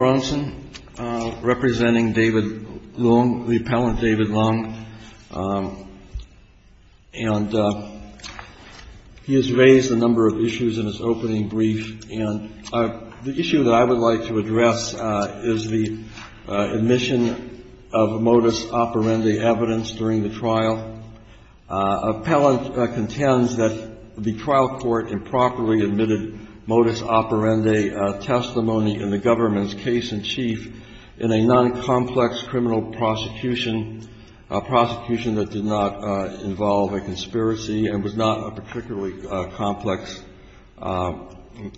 and he has raised a number of issues in his opening brief, and the issue that I would like to address is the admission of modus operandi evidence during the trial. Appellant contends that the trial court improperly admitted modus operandi testimony in the government's case-in-chief in a non-complex criminal prosecution, a prosecution that did not involve a conspiracy and was not a particularly complex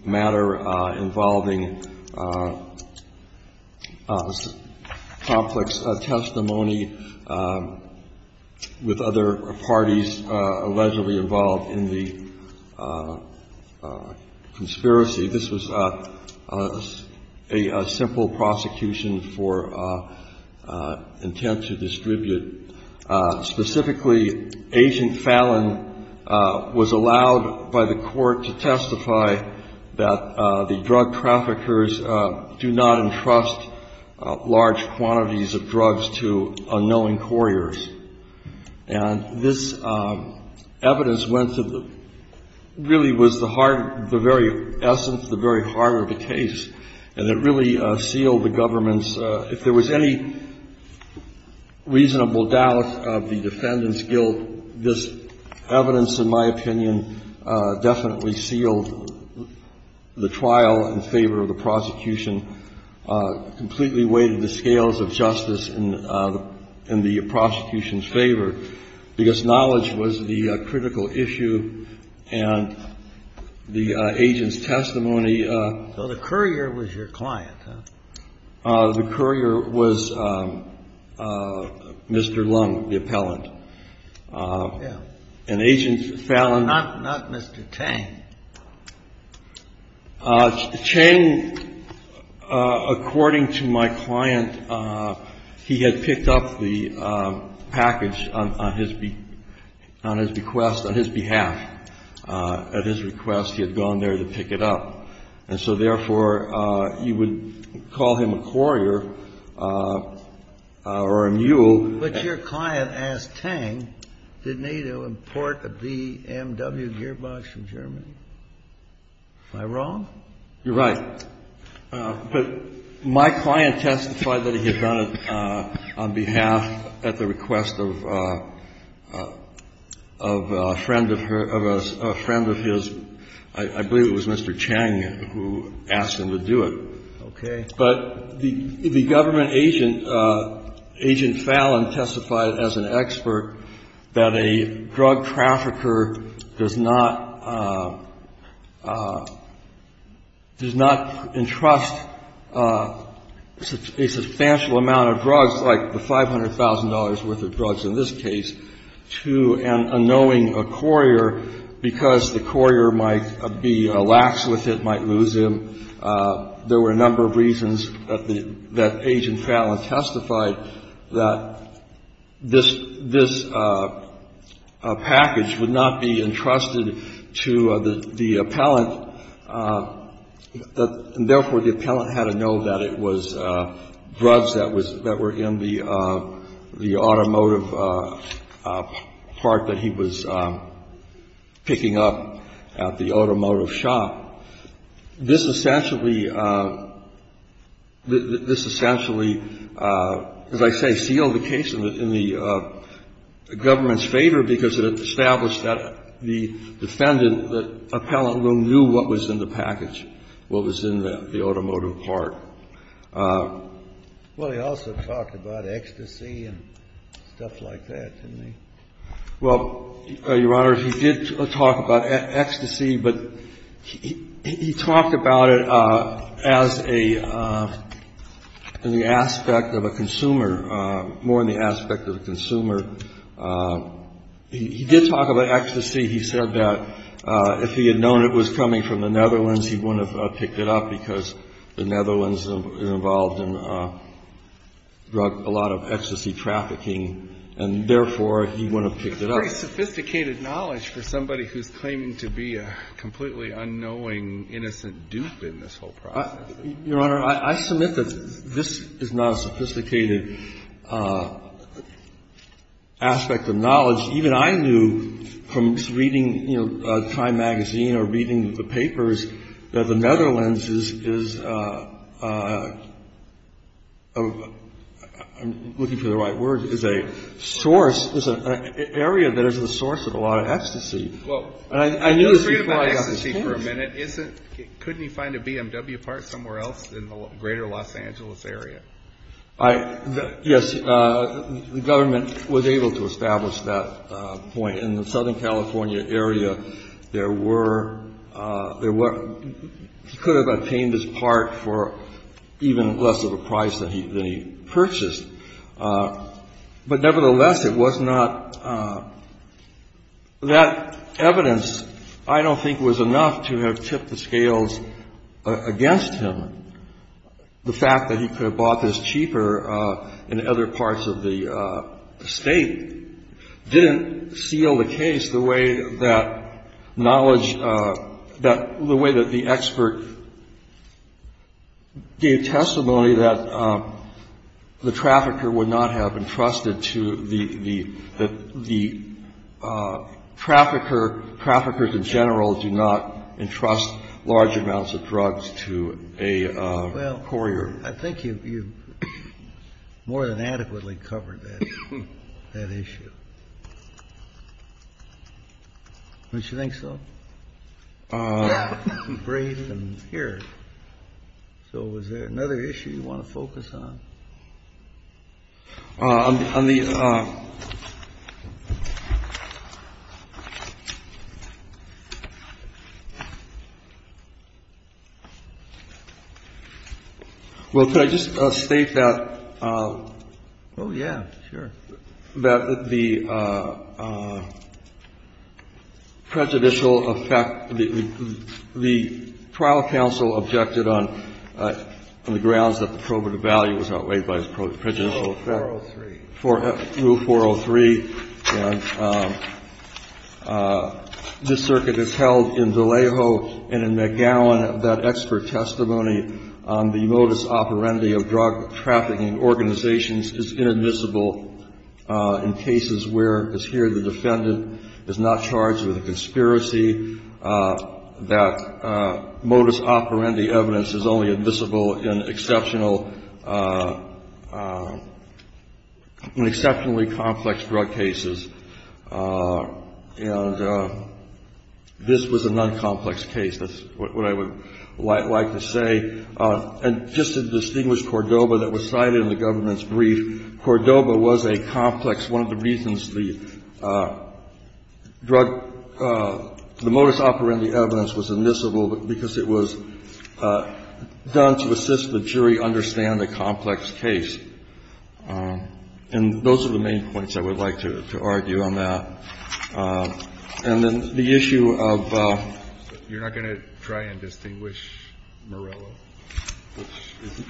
matter involving complex testimony with other parties allegedly involved in the conspiracy. This was a simple prosecution for intent to distribute. Specifically, Agent Fallon was allowed by the court to testify that the drug traffickers do not entrust large quantities of drugs to unknowing couriers. And this evidence went to the — really was the hard — the very essence, the very heart of the case, and it really sealed the government's — if there was any reasonable doubt of the defendant's guilt, this evidence, in my opinion, definitely sealed the trial in favor of the prosecution, completely weighted the scales of justice in the prosecution's favor, because knowledge was the critical issue, and the agent's testimony — So the courier was your client, huh? The courier was Mr. Leung, the appellant. Yeah. And Agent Fallon — Not Mr. Chang. Chang, according to my client, he had picked up the package on his — on his request, on his behalf. At his request, he had gone there to pick it up. And so, therefore, you would call him a courier or a mule. But your client asked Tang, didn't he, to import a BMW gearbox from Germany? Am I wrong? You're right. But my client testified that he had done it on behalf, at the request of a friend of her — of a friend of his. I believe it was Mr. Chang who asked him to do it. Okay. But the government agent, Agent Fallon, testified as an expert that a drug trafficker does not — does not entrust a substantial amount of drugs, like the $500,000 worth of drugs in this case, to an unknowing courier because the courier might be lax with it, might lose him. There were a number of reasons that the — that Agent Fallon testified that this — this package would not be entrusted to the — the appellant. Therefore, the appellant had to know that it was drugs that was — that were in the automotive part that he was picking up at the automotive shop. This essentially — this essentially, as I say, sealed the case in the government's favor because it established that the defendant, the appellant, knew what was in the package, what was in the automotive part. Well, he also talked about ecstasy and stuff like that, didn't he? Well, Your Honor, he did talk about ecstasy, but he talked about it as a — in the aspect of a consumer, more in the aspect of a consumer. He did talk about ecstasy. He said that if he had known it was coming from the Netherlands, he wouldn't have picked it up because the Netherlands are involved in a lot of ecstasy trafficking, and therefore, he wouldn't have picked it up. It's very sophisticated knowledge for somebody who's claiming to be a completely unknowing, innocent dupe in this whole process. Your Honor, I submit that this is not a sophisticated aspect of knowledge. Even I knew from reading, you know, Time magazine or reading the papers that the Netherlands is — I'm looking for the right word — is a source, is an area that is the source of a lot of ecstasy. Well — And I knew this before I got this case. Couldn't he find a BMW part somewhere else in the greater Los Angeles area? I — yes, the government was able to establish that point. In the Southern California area, there were — there were — he could have obtained his part for even less of a price than he purchased. But nevertheless, it was not — that evidence, I don't think, was enough to have tipped the scales against him, and the fact that he could have bought this cheaper in other parts of the state didn't seal the case the way that knowledge — that — the way that the expert gave testimony that the trafficker would not have entrusted to the — that the trafficker — traffickers in general do not entrust large amounts of drugs to a courier. Well, I think you've — you've more than adequately covered that — that issue. Don't you think so? Yeah. You've braved them here. So is there another issue you want to focus on? On the — on the — well, could I just state that — oh, yeah, sure — that the prejudicial effect — the trial counsel objected on the grounds that the probative value was outweighed by the prejudicial effect. Rule 403. Rule 403. And this circuit has held in Vallejo and in McGowan that expert testimony on the modus operandi of drug-trafficking is inadmissible in cases where, as here, the defendant is not charged with a conspiracy, that modus operandi evidence is only admissible in exceptional — in exceptionally complex drug cases. And this was a non-complex case. That's what I would like to say. And just to distinguish Cordoba that was cited in the government's brief, Cordoba was a complex — one of the reasons the drug — the modus operandi evidence was admissible because it was done to assist the jury understand the complex case. And those are the main points I would like to argue on that. And then the issue of — Murillo.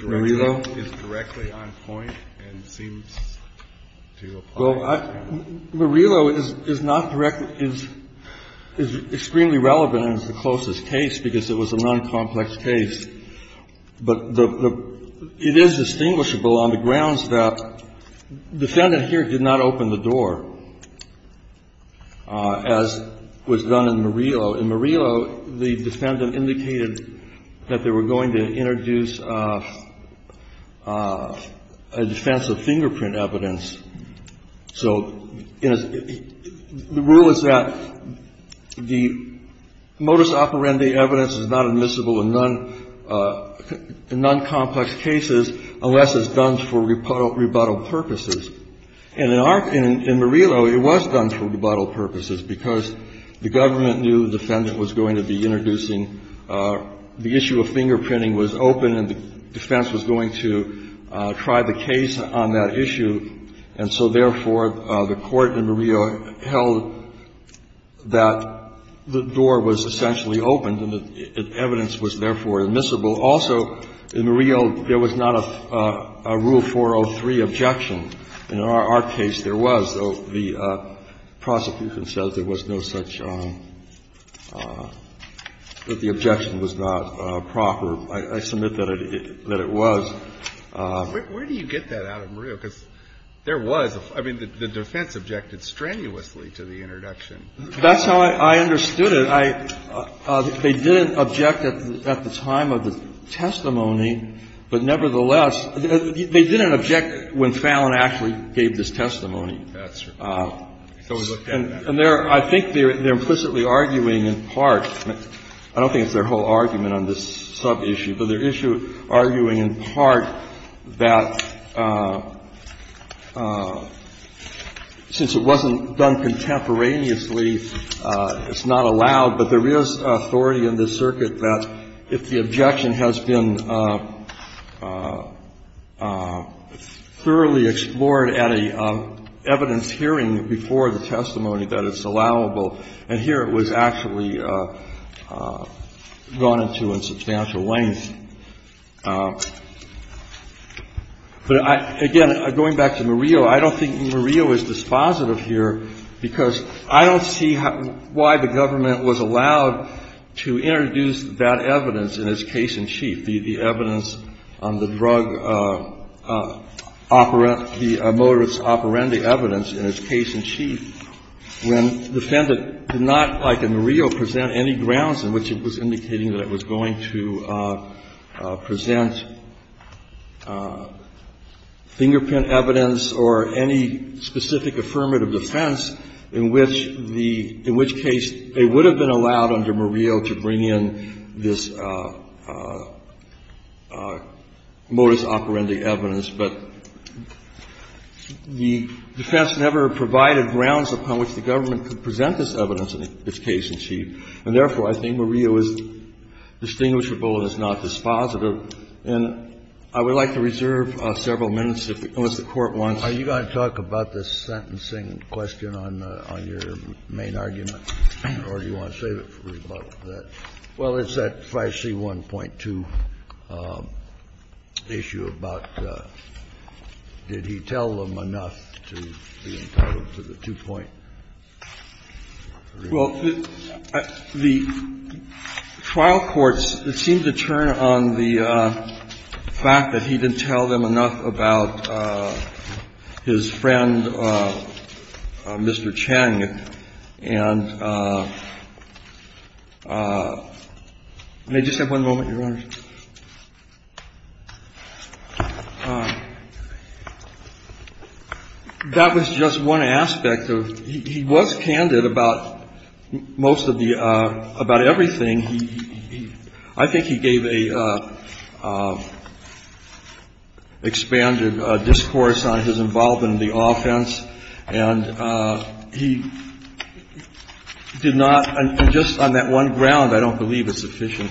Murillo is directly on point and seems to apply. Well, I — Murillo is not — is extremely relevant and is the closest case because it was a non-complex case. But the — it is distinguishable on the grounds that defendant here did not open the door, as was done in Murillo. In Murillo, the defendant indicated that they were going to introduce a defense of fingerprint evidence. So the rule is that the modus operandi evidence is not admissible in non-complex cases unless it's done for rebuttal purposes. And in our — in Murillo, it was done for rebuttal purposes because the government knew the defendant was going to be introducing — the issue of fingerprinting was open and the defense was going to try the case on that issue. And so, therefore, the Court in Murillo held that the door was essentially opened and the evidence was, therefore, admissible. Also, in Murillo, there was not a Rule 403 objection. In our case, there was. The prosecution says there was no such — that the objection was not proper. I submit that it was. Where do you get that out of Murillo? Because there was — I mean, the defense objected strenuously to the introduction. That's how I understood it. They didn't object at the time of the testimony, but nevertheless, they didn't object when Fallon actually gave this testimony. That's right. So we looked at that. And there — I think they're implicitly arguing in part — I don't think it's their whole argument on this sub-issue, but they're arguing in part that since it wasn't done contemporaneously, it's not allowed. But there is authority in this circuit that if the objection has been thoroughly explored at an evidence hearing before the testimony, that it's allowable. And here it was actually gone into in substantial length. But I — again, going back to Murillo, I don't think Murillo is dispositive here because I don't see why the government was allowed to introduce that evidence in its case-in-chief, the evidence on the drug operant, the motorist operandi evidence in its case-in-chief, when the defendant did not, like in Murillo, present any grounds in which it was indicating that it was going to present fingerprint evidence or any specific affirmative defense in which the — in which case it would have been allowed under Murillo to bring in this motorist operandi evidence. But the defense never provided grounds upon which the government could present this evidence in its case-in-chief. And therefore, I think Murillo is distinguishable and is not dispositive. And I would like to reserve several minutes, if the Court wants to. Kennedy, are you going to talk about the sentencing question on your main argument, or do you want to save it for rebuttal for that? Well, it's that 5C1.2 issue about did he tell them enough to be entitled to the 2.3. The fact that he didn't tell them enough about his friend, Mr. Cheng. And may I just have one moment, Your Honors? That was just one aspect of — he was candid about most of the — about everything. I mean, he — I think he gave a expanded discourse on his involvement in the offense. And he did not — and just on that one ground, I don't believe it's sufficient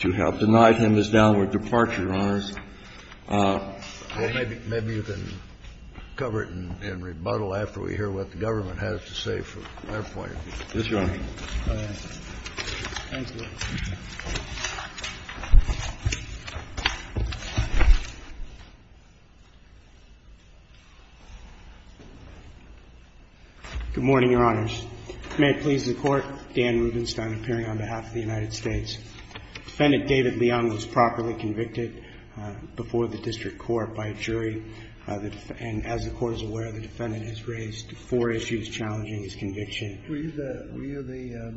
to have denied him his downward departure, Your Honors. Well, maybe you can cover it in rebuttal after we hear what the government has to say for that point. Yes, Your Honor. Thank you. Good morning, Your Honors. May it please the Court. Dan Rubenstein appearing on behalf of the United States. Defendant David Leung was properly convicted before the district court by a jury. And as the Court is aware, the defendant has raised four issues challenging his conviction. Were you the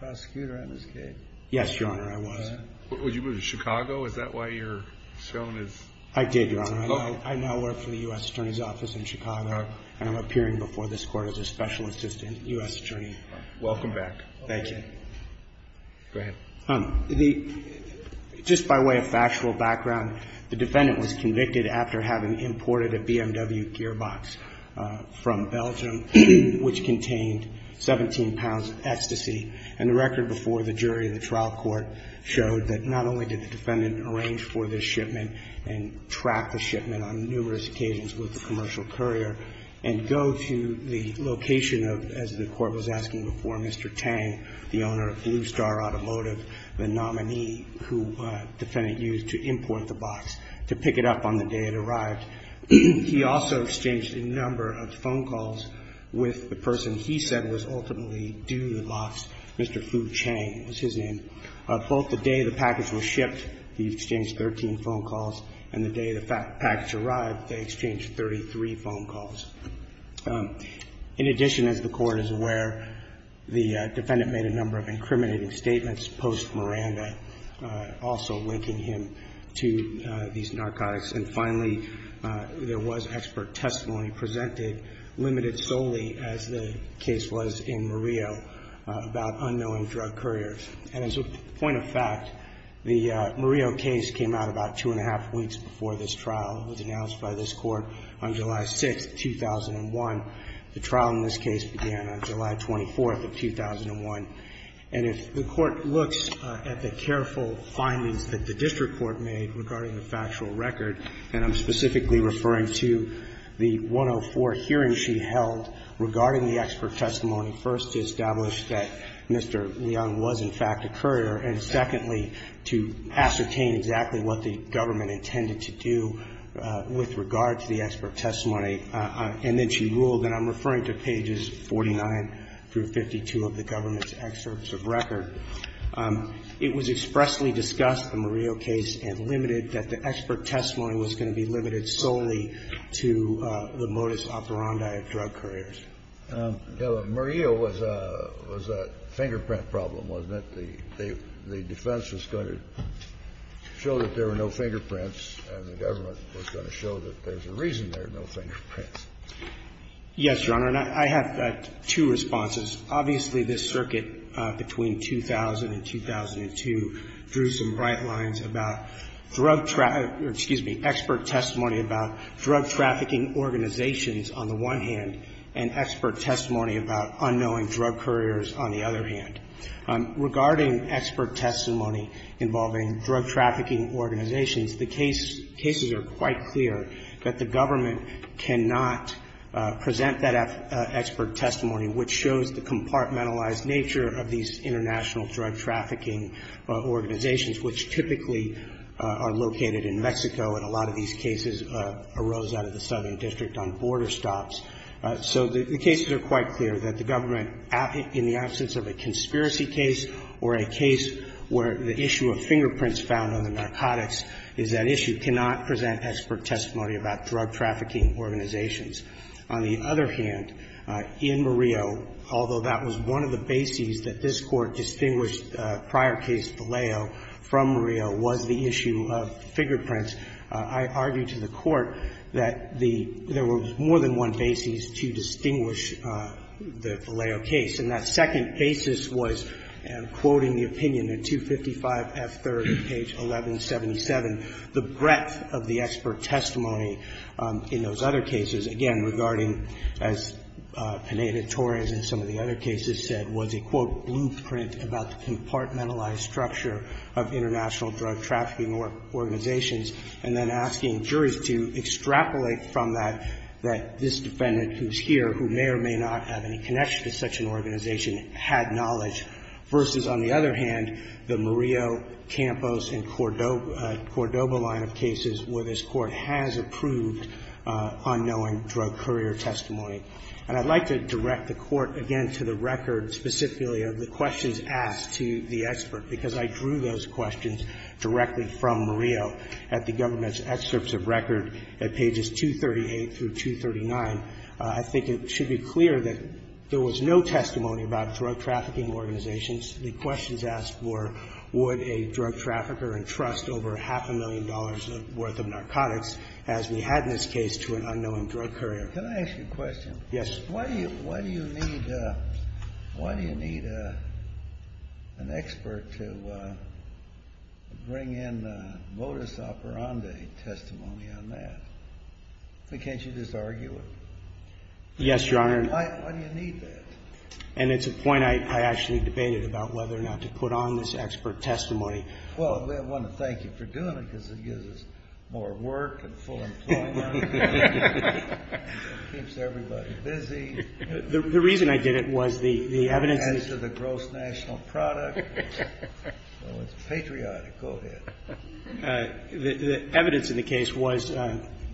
prosecutor at MSK? Yes, Your Honor, I was. Were you in Chicago? Is that why you're shown as — I did, Your Honor. I now work for the U.S. Attorney's Office in Chicago. And I'm appearing before this Court as a special assistant U.S. attorney. Welcome back. Thank you. Go ahead. Just by way of factual background, the defendant was convicted after having imported a BMW gearbox from Belgium, which contained 17 pounds of ecstasy. And the record before the jury in the trial court showed that not only did the defendant arrange for this shipment and track the shipment on numerous occasions with the commercial courier and go to the location of, as the Court was asking before, Mr. Tang, the owner of Blue Star Automotive, the nominee who the defendant used to import the package arrived. He also exchanged a number of phone calls with the person he said was ultimately due the loss, Mr. Fu Chang was his name. Both the day the package was shipped, he exchanged 13 phone calls, and the day the package arrived, they exchanged 33 phone calls. In addition, as the Court is aware, the defendant made a number of incriminating statements post Miranda, also linking him to these narcotics. And finally, there was expert testimony presented, limited solely, as the case was in Murillo, about unknowing drug couriers. And as a point of fact, the Murillo case came out about two and a half weeks before this trial. It was announced by this Court on July 6th, 2001. The trial in this case began on July 24th of 2001. And if the Court looks at the careful findings that the district court made regarding the factual record, and I'm specifically referring to the 104 hearing she held regarding the expert testimony, first to establish that Mr. Leung was, in fact, a courier, and secondly, to ascertain exactly what the government intended to do with regard to the expert testimony, and then she ruled, and I'm referring to pages 49 through 52 of the government's excerpts of record. It was expressly discussed, the Murillo case, and limited that the expert testimony was going to be limited solely to the modus operandi of drug couriers. Kennedy. Murillo was a fingerprint problem, wasn't it? The defense was going to show that there were no fingerprints, and the government was going to show that there's a reason there are no fingerprints. Yes, Your Honor. And I have two responses. Obviously, this circuit between 2000 and 2002 drew some bright lines about drug traffic or, excuse me, expert testimony about drug trafficking organizations on the one hand and expert testimony about unknowing drug couriers on the other hand. Regarding expert testimony involving drug trafficking organizations, the cases are quite clear that the government cannot present that expert testimony which shows the compartmentalized nature of these international drug trafficking organizations which typically are located in Mexico, and a lot of these cases arose out of the Southern District on border stops. So the cases are quite clear that the government, in the absence of a conspiracy case or a case where the issue of fingerprints found on the narcotics is at issue, cannot present expert testimony about drug trafficking organizations. On the other hand, in Murillo, although that was one of the bases that this Court distinguished prior case Vallejo from Murillo was the issue of fingerprints, I argued to the Court that the – there was more than one basis to distinguish the Vallejo case, and that second basis was, and I'm quoting the opinion at 255 F. III, page 1177, the breadth of the expert testimony in those other cases, again, regarding, as Pineda-Torres and some of the other cases said, was a, quote, blueprint about the compartmentalized structure of international drug trafficking organizations, and then asking juries to extrapolate from that that this defendant who's here, who may or may not have any connection to such an organization, had knowledge, versus, on the other hand, the Murillo, Campos, and Cordoba line of cases where this Court has approved unknowing drug courier testimony. And I'd like to direct the Court, again, to the record specifically of the questions asked to the expert, because I drew those questions directly from Murillo at the government's excerpts of record at pages 238 through 239. I think it should be clear that there was no testimony about drug trafficking organizations. The questions asked were, would a drug trafficker entrust over half a million dollars' worth of narcotics, as we had in this case, to an unknowing drug courier? Can I ask you a question? Yes. Why do you need an expert to bring in modus operandi testimony on that? I mean, can't you just argue it? Yes, Your Honor. Why do you need that? And it's a point I actually debated about whether or not to put on this expert testimony. Well, I want to thank you for doing it, because it gives us more work and full employment. It keeps everybody busy. The reason I did it was the evidence is the gross national product. So it's patriotic. Go ahead. The evidence in the case was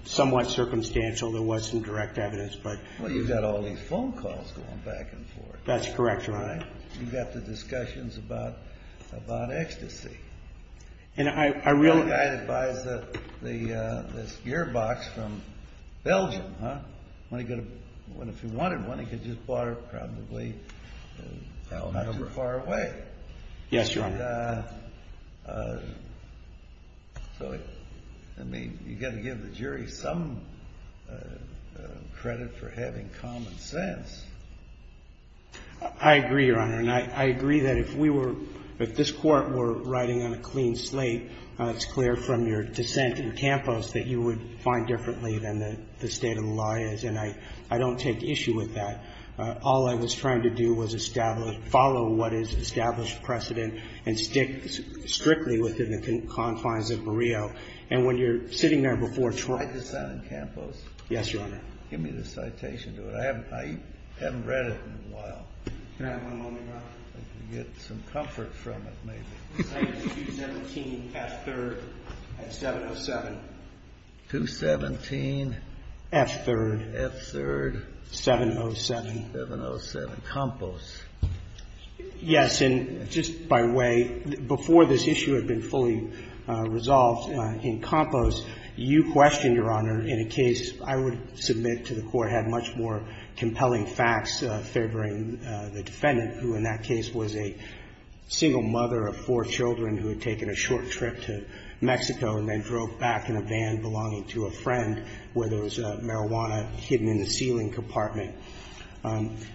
somewhat circumstantial. There wasn't direct evidence, but. Well, you've got all these phone calls going back and forth. That's correct, Your Honor. You've got the discussions about ecstasy. The guy that buys this gearbox from Belgium, huh? If he wanted one, he could have just bought it probably not too far away. Yes, Your Honor. So, I mean, you've got to give the jury some credit for having common sense. I agree, Your Honor. And I agree that if we were, if this Court were riding on a clean slate, it's clear from your dissent in Campos that you would find differently than the state of the lie is. And I don't take issue with that. All I was trying to do was establish, follow what is established precedent and stick strictly within the confines of Barrio. And when you're sitting there before trial. My dissent in Campos? Yes, Your Honor. Give me the citation to it. I haven't read it in a while. Can I have one moment, Your Honor? Get some comfort from it, maybe. Citation 217F3rd at 707. 217. F3rd. F3rd. 707. 707. Campos. Yes. And just by way, before this issue had been fully resolved in Campos, you questioned, Your Honor, in a case I would submit to the Court had much more compelling facts favoring the defendant, who in that case was a single mother of four children who had taken a short trip to Mexico and then drove back in a van belonging to a friend where there was marijuana hidden in the ceiling compartment. And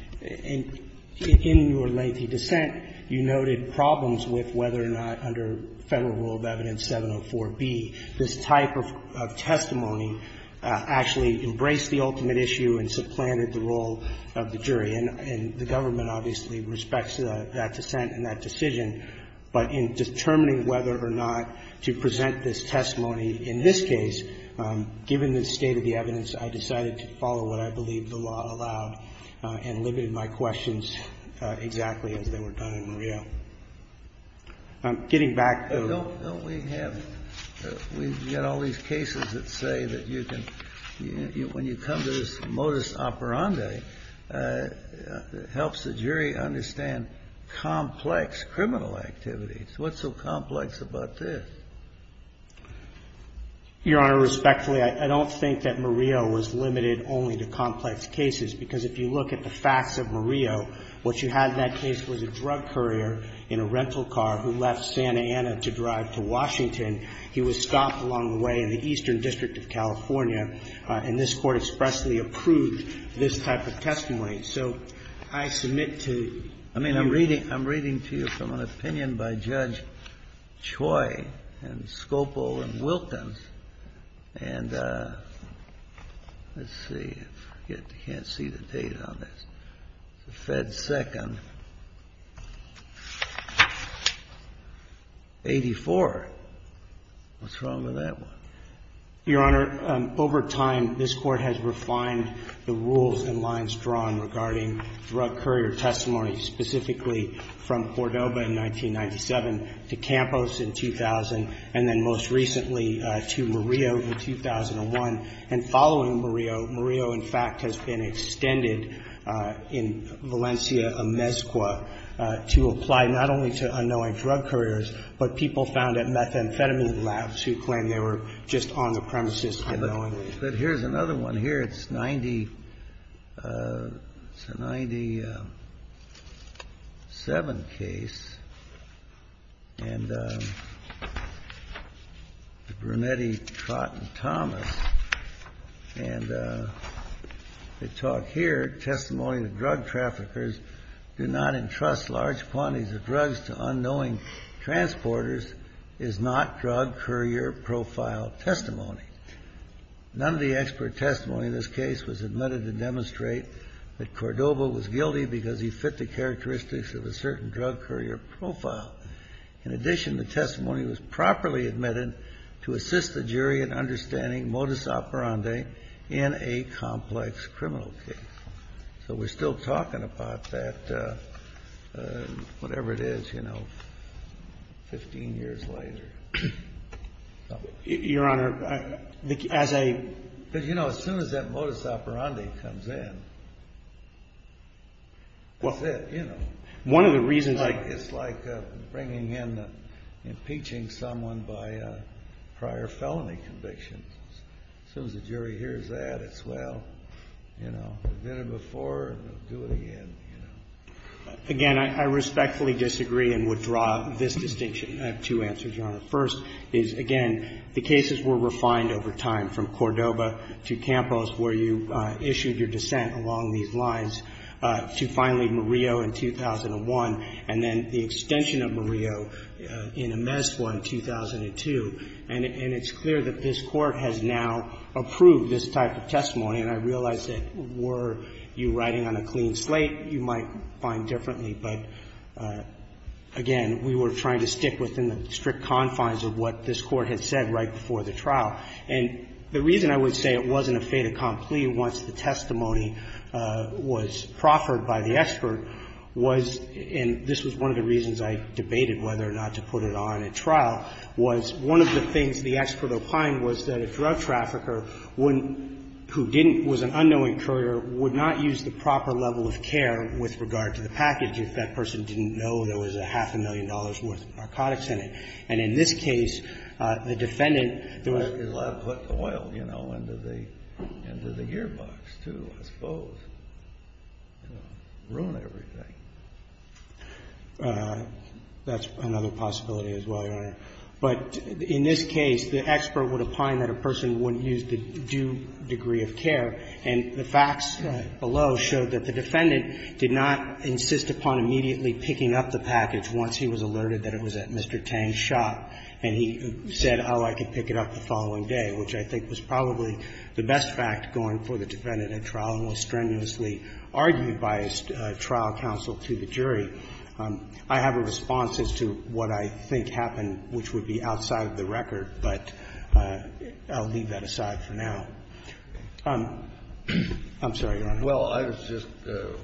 in your lengthy dissent, you noted problems with whether or not under Federal Rule of Evidence 704B this type of testimony actually embraced the ultimate issue and supplanted the role of the jury. And the government obviously respects that dissent and that decision, but in determining whether or not to present this testimony in this case, given the state of the evidence, I decided to follow what I believe the law allowed and limited my questions exactly as they were done in Murillo. Getting back to the ---- Justice Oparande helps the jury understand complex criminal activities. What's so complex about this? Your Honor, respectfully, I don't think that Murillo was limited only to complex cases, because if you look at the facts of Murillo, what you had in that case was a drug courier in a rental car who left Santa Ana to drive to Washington. He was stopped along the way in the Eastern District of California, and this Court expressly approved this type of testimony. So I submit to your reading. I mean, I'm reading to you from an opinion by Judge Choi and Scopel and Wilkins. And let's see. I forget. I can't see the date on this. It's the Fed Second. 84. What's wrong with that one? Your Honor, over time, this Court has refined the rules and lines drawn regarding drug courier testimony, specifically from Cordoba in 1997 to Campos in 2000, and then most recently to Murillo in 2001. And following Murillo, Murillo, in fact, has been extended in Valencia, Amezcua, to apply not only to unknowing drug couriers, but people found at methamphetamine labs who claimed they were just on the premises unknowingly. But here's another one here. It's a 97 case, and Brunetti, Trott, and Thomas. And they talk here, testimony to drug traffickers do not entrust large quantities of drugs to unknowing transporters is not drug courier profile testimony. None of the expert testimony in this case was admitted to demonstrate that Cordoba was guilty because he fit the characteristics of a certain drug courier profile. In addition, the testimony was properly admitted to assist the jury in understanding modus operandi in a complex criminal case. So we're still talking about that, whatever it is, you know, 15 years later. Your Honor, as a – Because, you know, as soon as that modus operandi comes in, that's it, you know. One of the reasons – It's like bringing in, impeaching someone by prior felony convictions. As soon as the jury hears that, it's, well, you know, they've been here before, they'll do it again, you know. Again, I respectfully disagree and withdraw this distinction. I have two answers, Your Honor. First is, again, the cases were refined over time from Cordoba to Campos, where you issued your dissent along these lines, to finally Murillo in 2001, and then the extension of Murillo in Amezcua in 2002. And it's clear that this Court has now approved this type of testimony. And I realize that were you writing on a clean slate, you might find differently. But, again, we were trying to stick within the strict confines of what this Court had said right before the trial. And the reason I would say it wasn't a fait accompli once the testimony was proffered by the expert was – and this was one of the reasons I debated whether or not to put it on at trial – was one of the things the expert opined was that a drug trafficker wouldn't – who didn't – was an unknowing courier would not use the proper level of care with regard to the package if that person didn't know there was a half a million dollars' worth of narcotics in it. And in this case, the defendant – That's another possibility as well, Your Honor. But in this case, the expert would opine that a person wouldn't use the due degree of care. And the facts below showed that the defendant did not insist upon immediately picking up the package once he was alerted that it was at Mr. Tang's shop. And he said, oh, I could pick it up the following day, which I think was probably the best fact going for the defendant at trial and was strenuously argued by his trial counsel to the jury. I have a response as to what I think happened, which would be outside of the record, but I'll leave that aside for now. I'm sorry, Your Honor. Well, I was just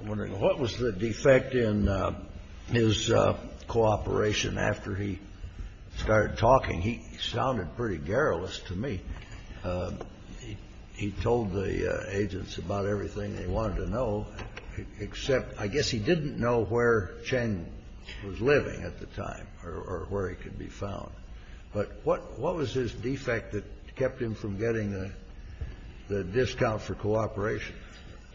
wondering, what was the defect in his cooperation after he started talking? He sounded pretty garrulous to me. He told the agents about everything they wanted to know, except I guess he didn't know where Cheng was living at the time or where he could be found. But what was his defect that kept him from getting the discount for cooperation?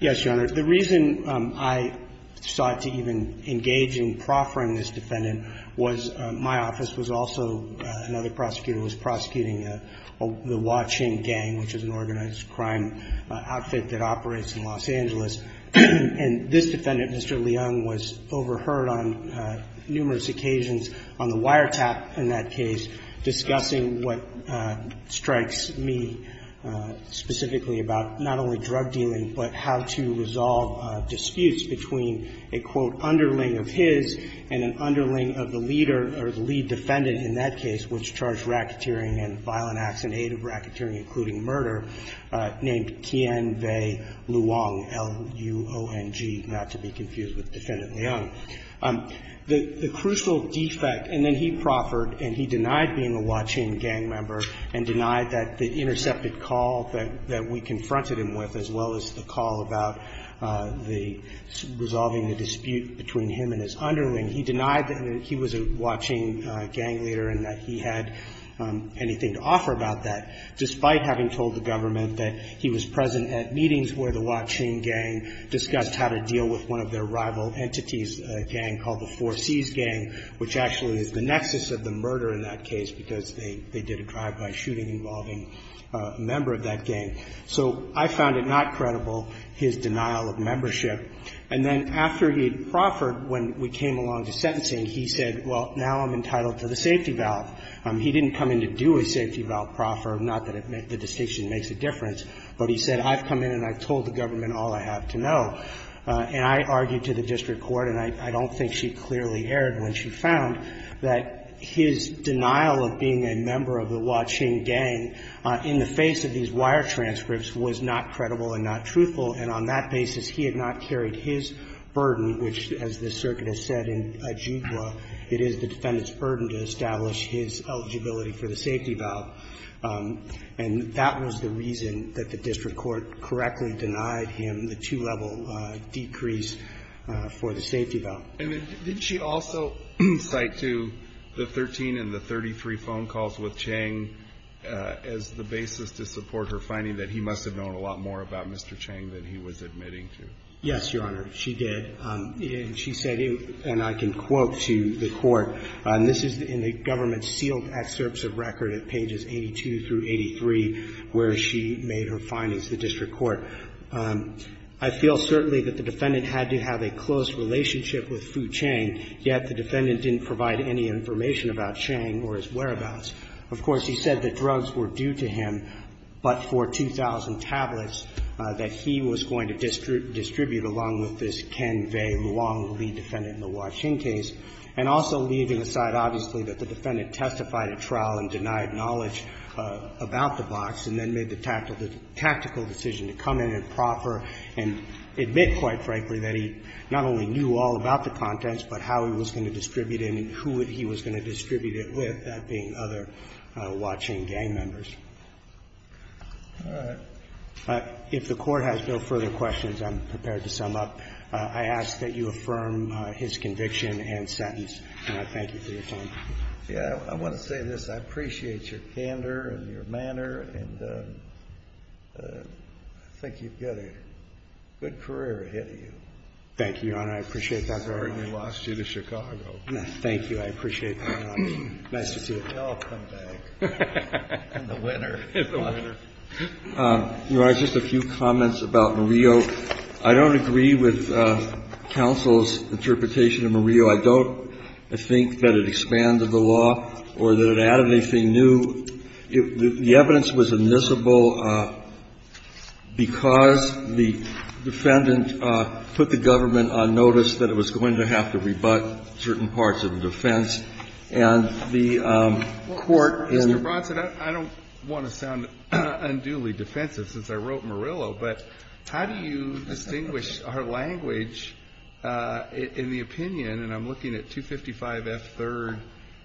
Yes, Your Honor. The reason I sought to even engage in proffering this defendant was my office was also another prosecutor who was prosecuting the Wah Ching Gang, which is an organized crime outfit that operates in Los Angeles. And this defendant, Mr. Leung, was overheard on numerous occasions on the wiretap in that case discussing what strikes me specifically about not only drug dealing but how to resolve disputes between a, quote, underling of his and an underling of the leader or the lead defendant in that case, which charged racketeering and violent acts in aid of racketeering, including murder, named Tian-Wei Luong, L-U-O-N-G, not to be confused with Defendant Leung. The crucial defect, and then he proffered and he denied being a Wah Ching Gang member and denied that the intercepted call that we confronted him with, as well as the call about the resolving the dispute between him and his underling, he denied that he was a Wah Ching Gang leader and that he had anything to offer about that, despite having told the government that he was present at meetings where the Wah Ching Gang discussed how to deal with one of their rival entities, a gang called the Four Cs Gang, which actually is the nexus of the murder in that case because they did a drive-by shooting involving a member of that gang. So I found it not credible, his denial of membership. And then after he had proffered, when we came along to sentencing, he said, well, now I'm entitled to the safety valve. He didn't come in to do a safety valve proffer, not that the distinction makes a difference, but he said, I've come in and I've told the government all I have to know. And I argued to the district court, and I don't think she clearly erred when she found that his denial of being a member of the Wah Ching Gang in the face of these wire transcripts was not credible and not truthful, and on that basis, he had not carried his burden, which, as the circuit has said in Ajigwa, it is the defendant's burden to establish his eligibility for the safety valve. And that was the reason that the district court correctly denied him the two-level decrease for the safety valve. And then did she also cite to the 13 and the 33 phone calls with Chang as the basis to support her finding that he must have known a lot more about Mr. Chang than he was admitting to? Yes, Your Honor, she did. And she said, and I can quote to the Court, and this is in the government's excerpts of record at pages 82 through 83 where she made her findings to the district court. I feel certainly that the defendant had to have a close relationship with Fu Chang, yet the defendant didn't provide any information about Chang or his whereabouts. Of course, he said the drugs were due to him, but for 2,000 tablets that he was going to distribute along with this Ken Vae Luong Lee defendant in the Wah Ching case. And also leaving aside, obviously, that the defendant testified at trial and denied knowledge about the box, and then made the tactical decision to come in and proffer and admit, quite frankly, that he not only knew all about the contents, but how he was going to distribute it and who he was going to distribute it with, that being other Wah Ching gang members. If the Court has no further questions, I'm prepared to sum up. I ask that you affirm his conviction and sentence, and I thank you for your time. Yeah. I want to say this. I appreciate your candor and your manner, and I think you've got a good career ahead of you. Thank you, Your Honor. I appreciate that very much. Sorry we lost you to Chicago. Thank you. I appreciate that very much. Nice to see you. We all come back. And the winner is the winner. Your Honor, just a few comments about Murillo. I don't agree with counsel's interpretation of Murillo. I don't think that it expanded the law or that it added anything new. The evidence was admissible because the defendant put the government on notice that it was going to have to rebut certain parts of the defense, and the Court in the court. Mr. Bronson, I don't want to sound unduly defensive since I wrote Murillo, but how do you distinguish our language in the opinion, and I'm looking at 255 F. 3rd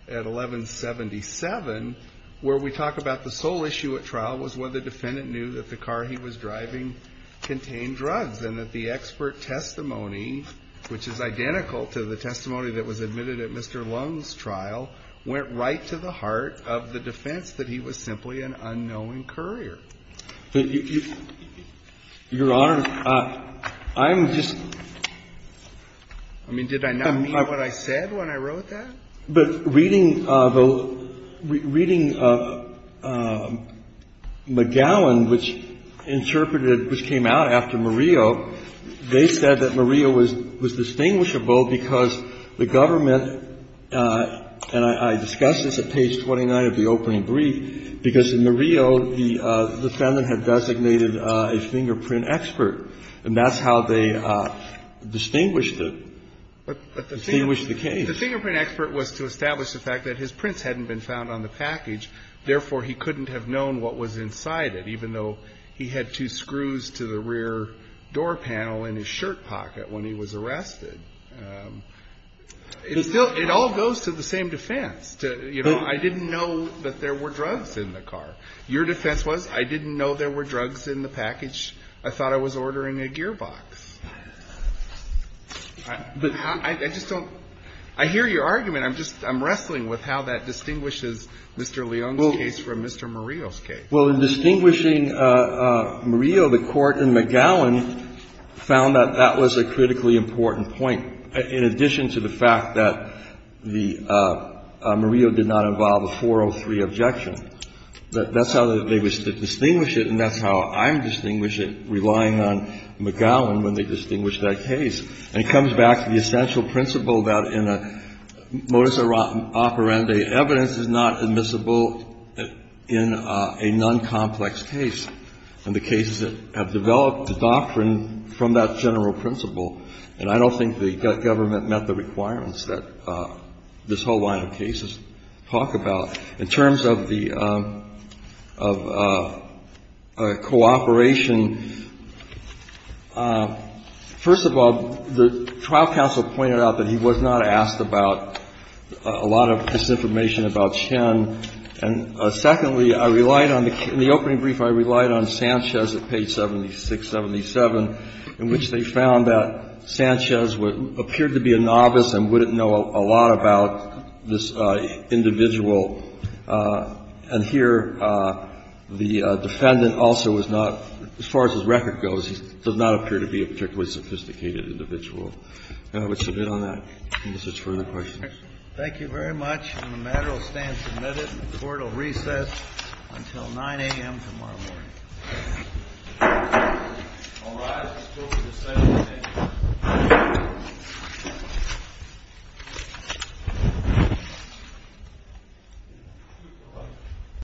at 1177, where we talk about the sole issue at trial was whether the defendant knew that the car he was driving contained drugs, and that the expert testimony, which is identical to the testimony that was admitted at Mr. Lung's trial, went right to the heart of the defense that he was simply an unknowing courier. Your Honor, I'm just. I mean, did I not mean what I said when I wrote that? But reading McGowan, which interpreted, which came out after Murillo, they said that Murillo was distinguishable because the government, and I discussed this at page 29 of the opening brief, because in Murillo, the defendant had designated a fingerprint expert, and that's how they distinguished it, distinguished the case. The fingerprint expert was to establish the fact that his prints hadn't been found on the package, therefore, he couldn't have known what was inside it, even though he had two screws to the rear door panel in his shirt pocket when he was arrested. It still, it all goes to the same defense. You know, I didn't know that there were drugs in the car. Your defense was, I didn't know there were drugs in the package. I thought I was ordering a gearbox. I just don't. I hear your argument. I'm just, I'm wrestling with how that distinguishes Mr. Lung's case from Mr. Murillo's case. Kennedy. Well, in distinguishing Murillo, the Court in McGowan found that that was a critically important point, in addition to the fact that the, Murillo did not involve a 403 objection. That's how they were to distinguish it, and that's how I'm distinguishing it, relying on McGowan when they distinguish that case. And it comes back to the essential principle that in a modus operandi evidence is not admissible in a noncomplex case. And the cases that have developed the doctrine from that general principle, and I don't think the government met the requirements that this whole line of cases talk about. In terms of the, of cooperation, first of all, the trial counsel pointed out that he was not asked about a lot of misinformation about Chen. And secondly, I relied on the, in the opening brief, I relied on Sanchez at page 7677, in which they found that Sanchez appeared to be a novice and wouldn't know a lot about this individual. And here, the defendant also was not, as far as his record goes, he does not appear to be a particularly sophisticated individual. And I would submit on that, unless there's further questions. Thank you very much. And the matter will stand submitted and the court will recess until 9 a.m. tomorrow morning.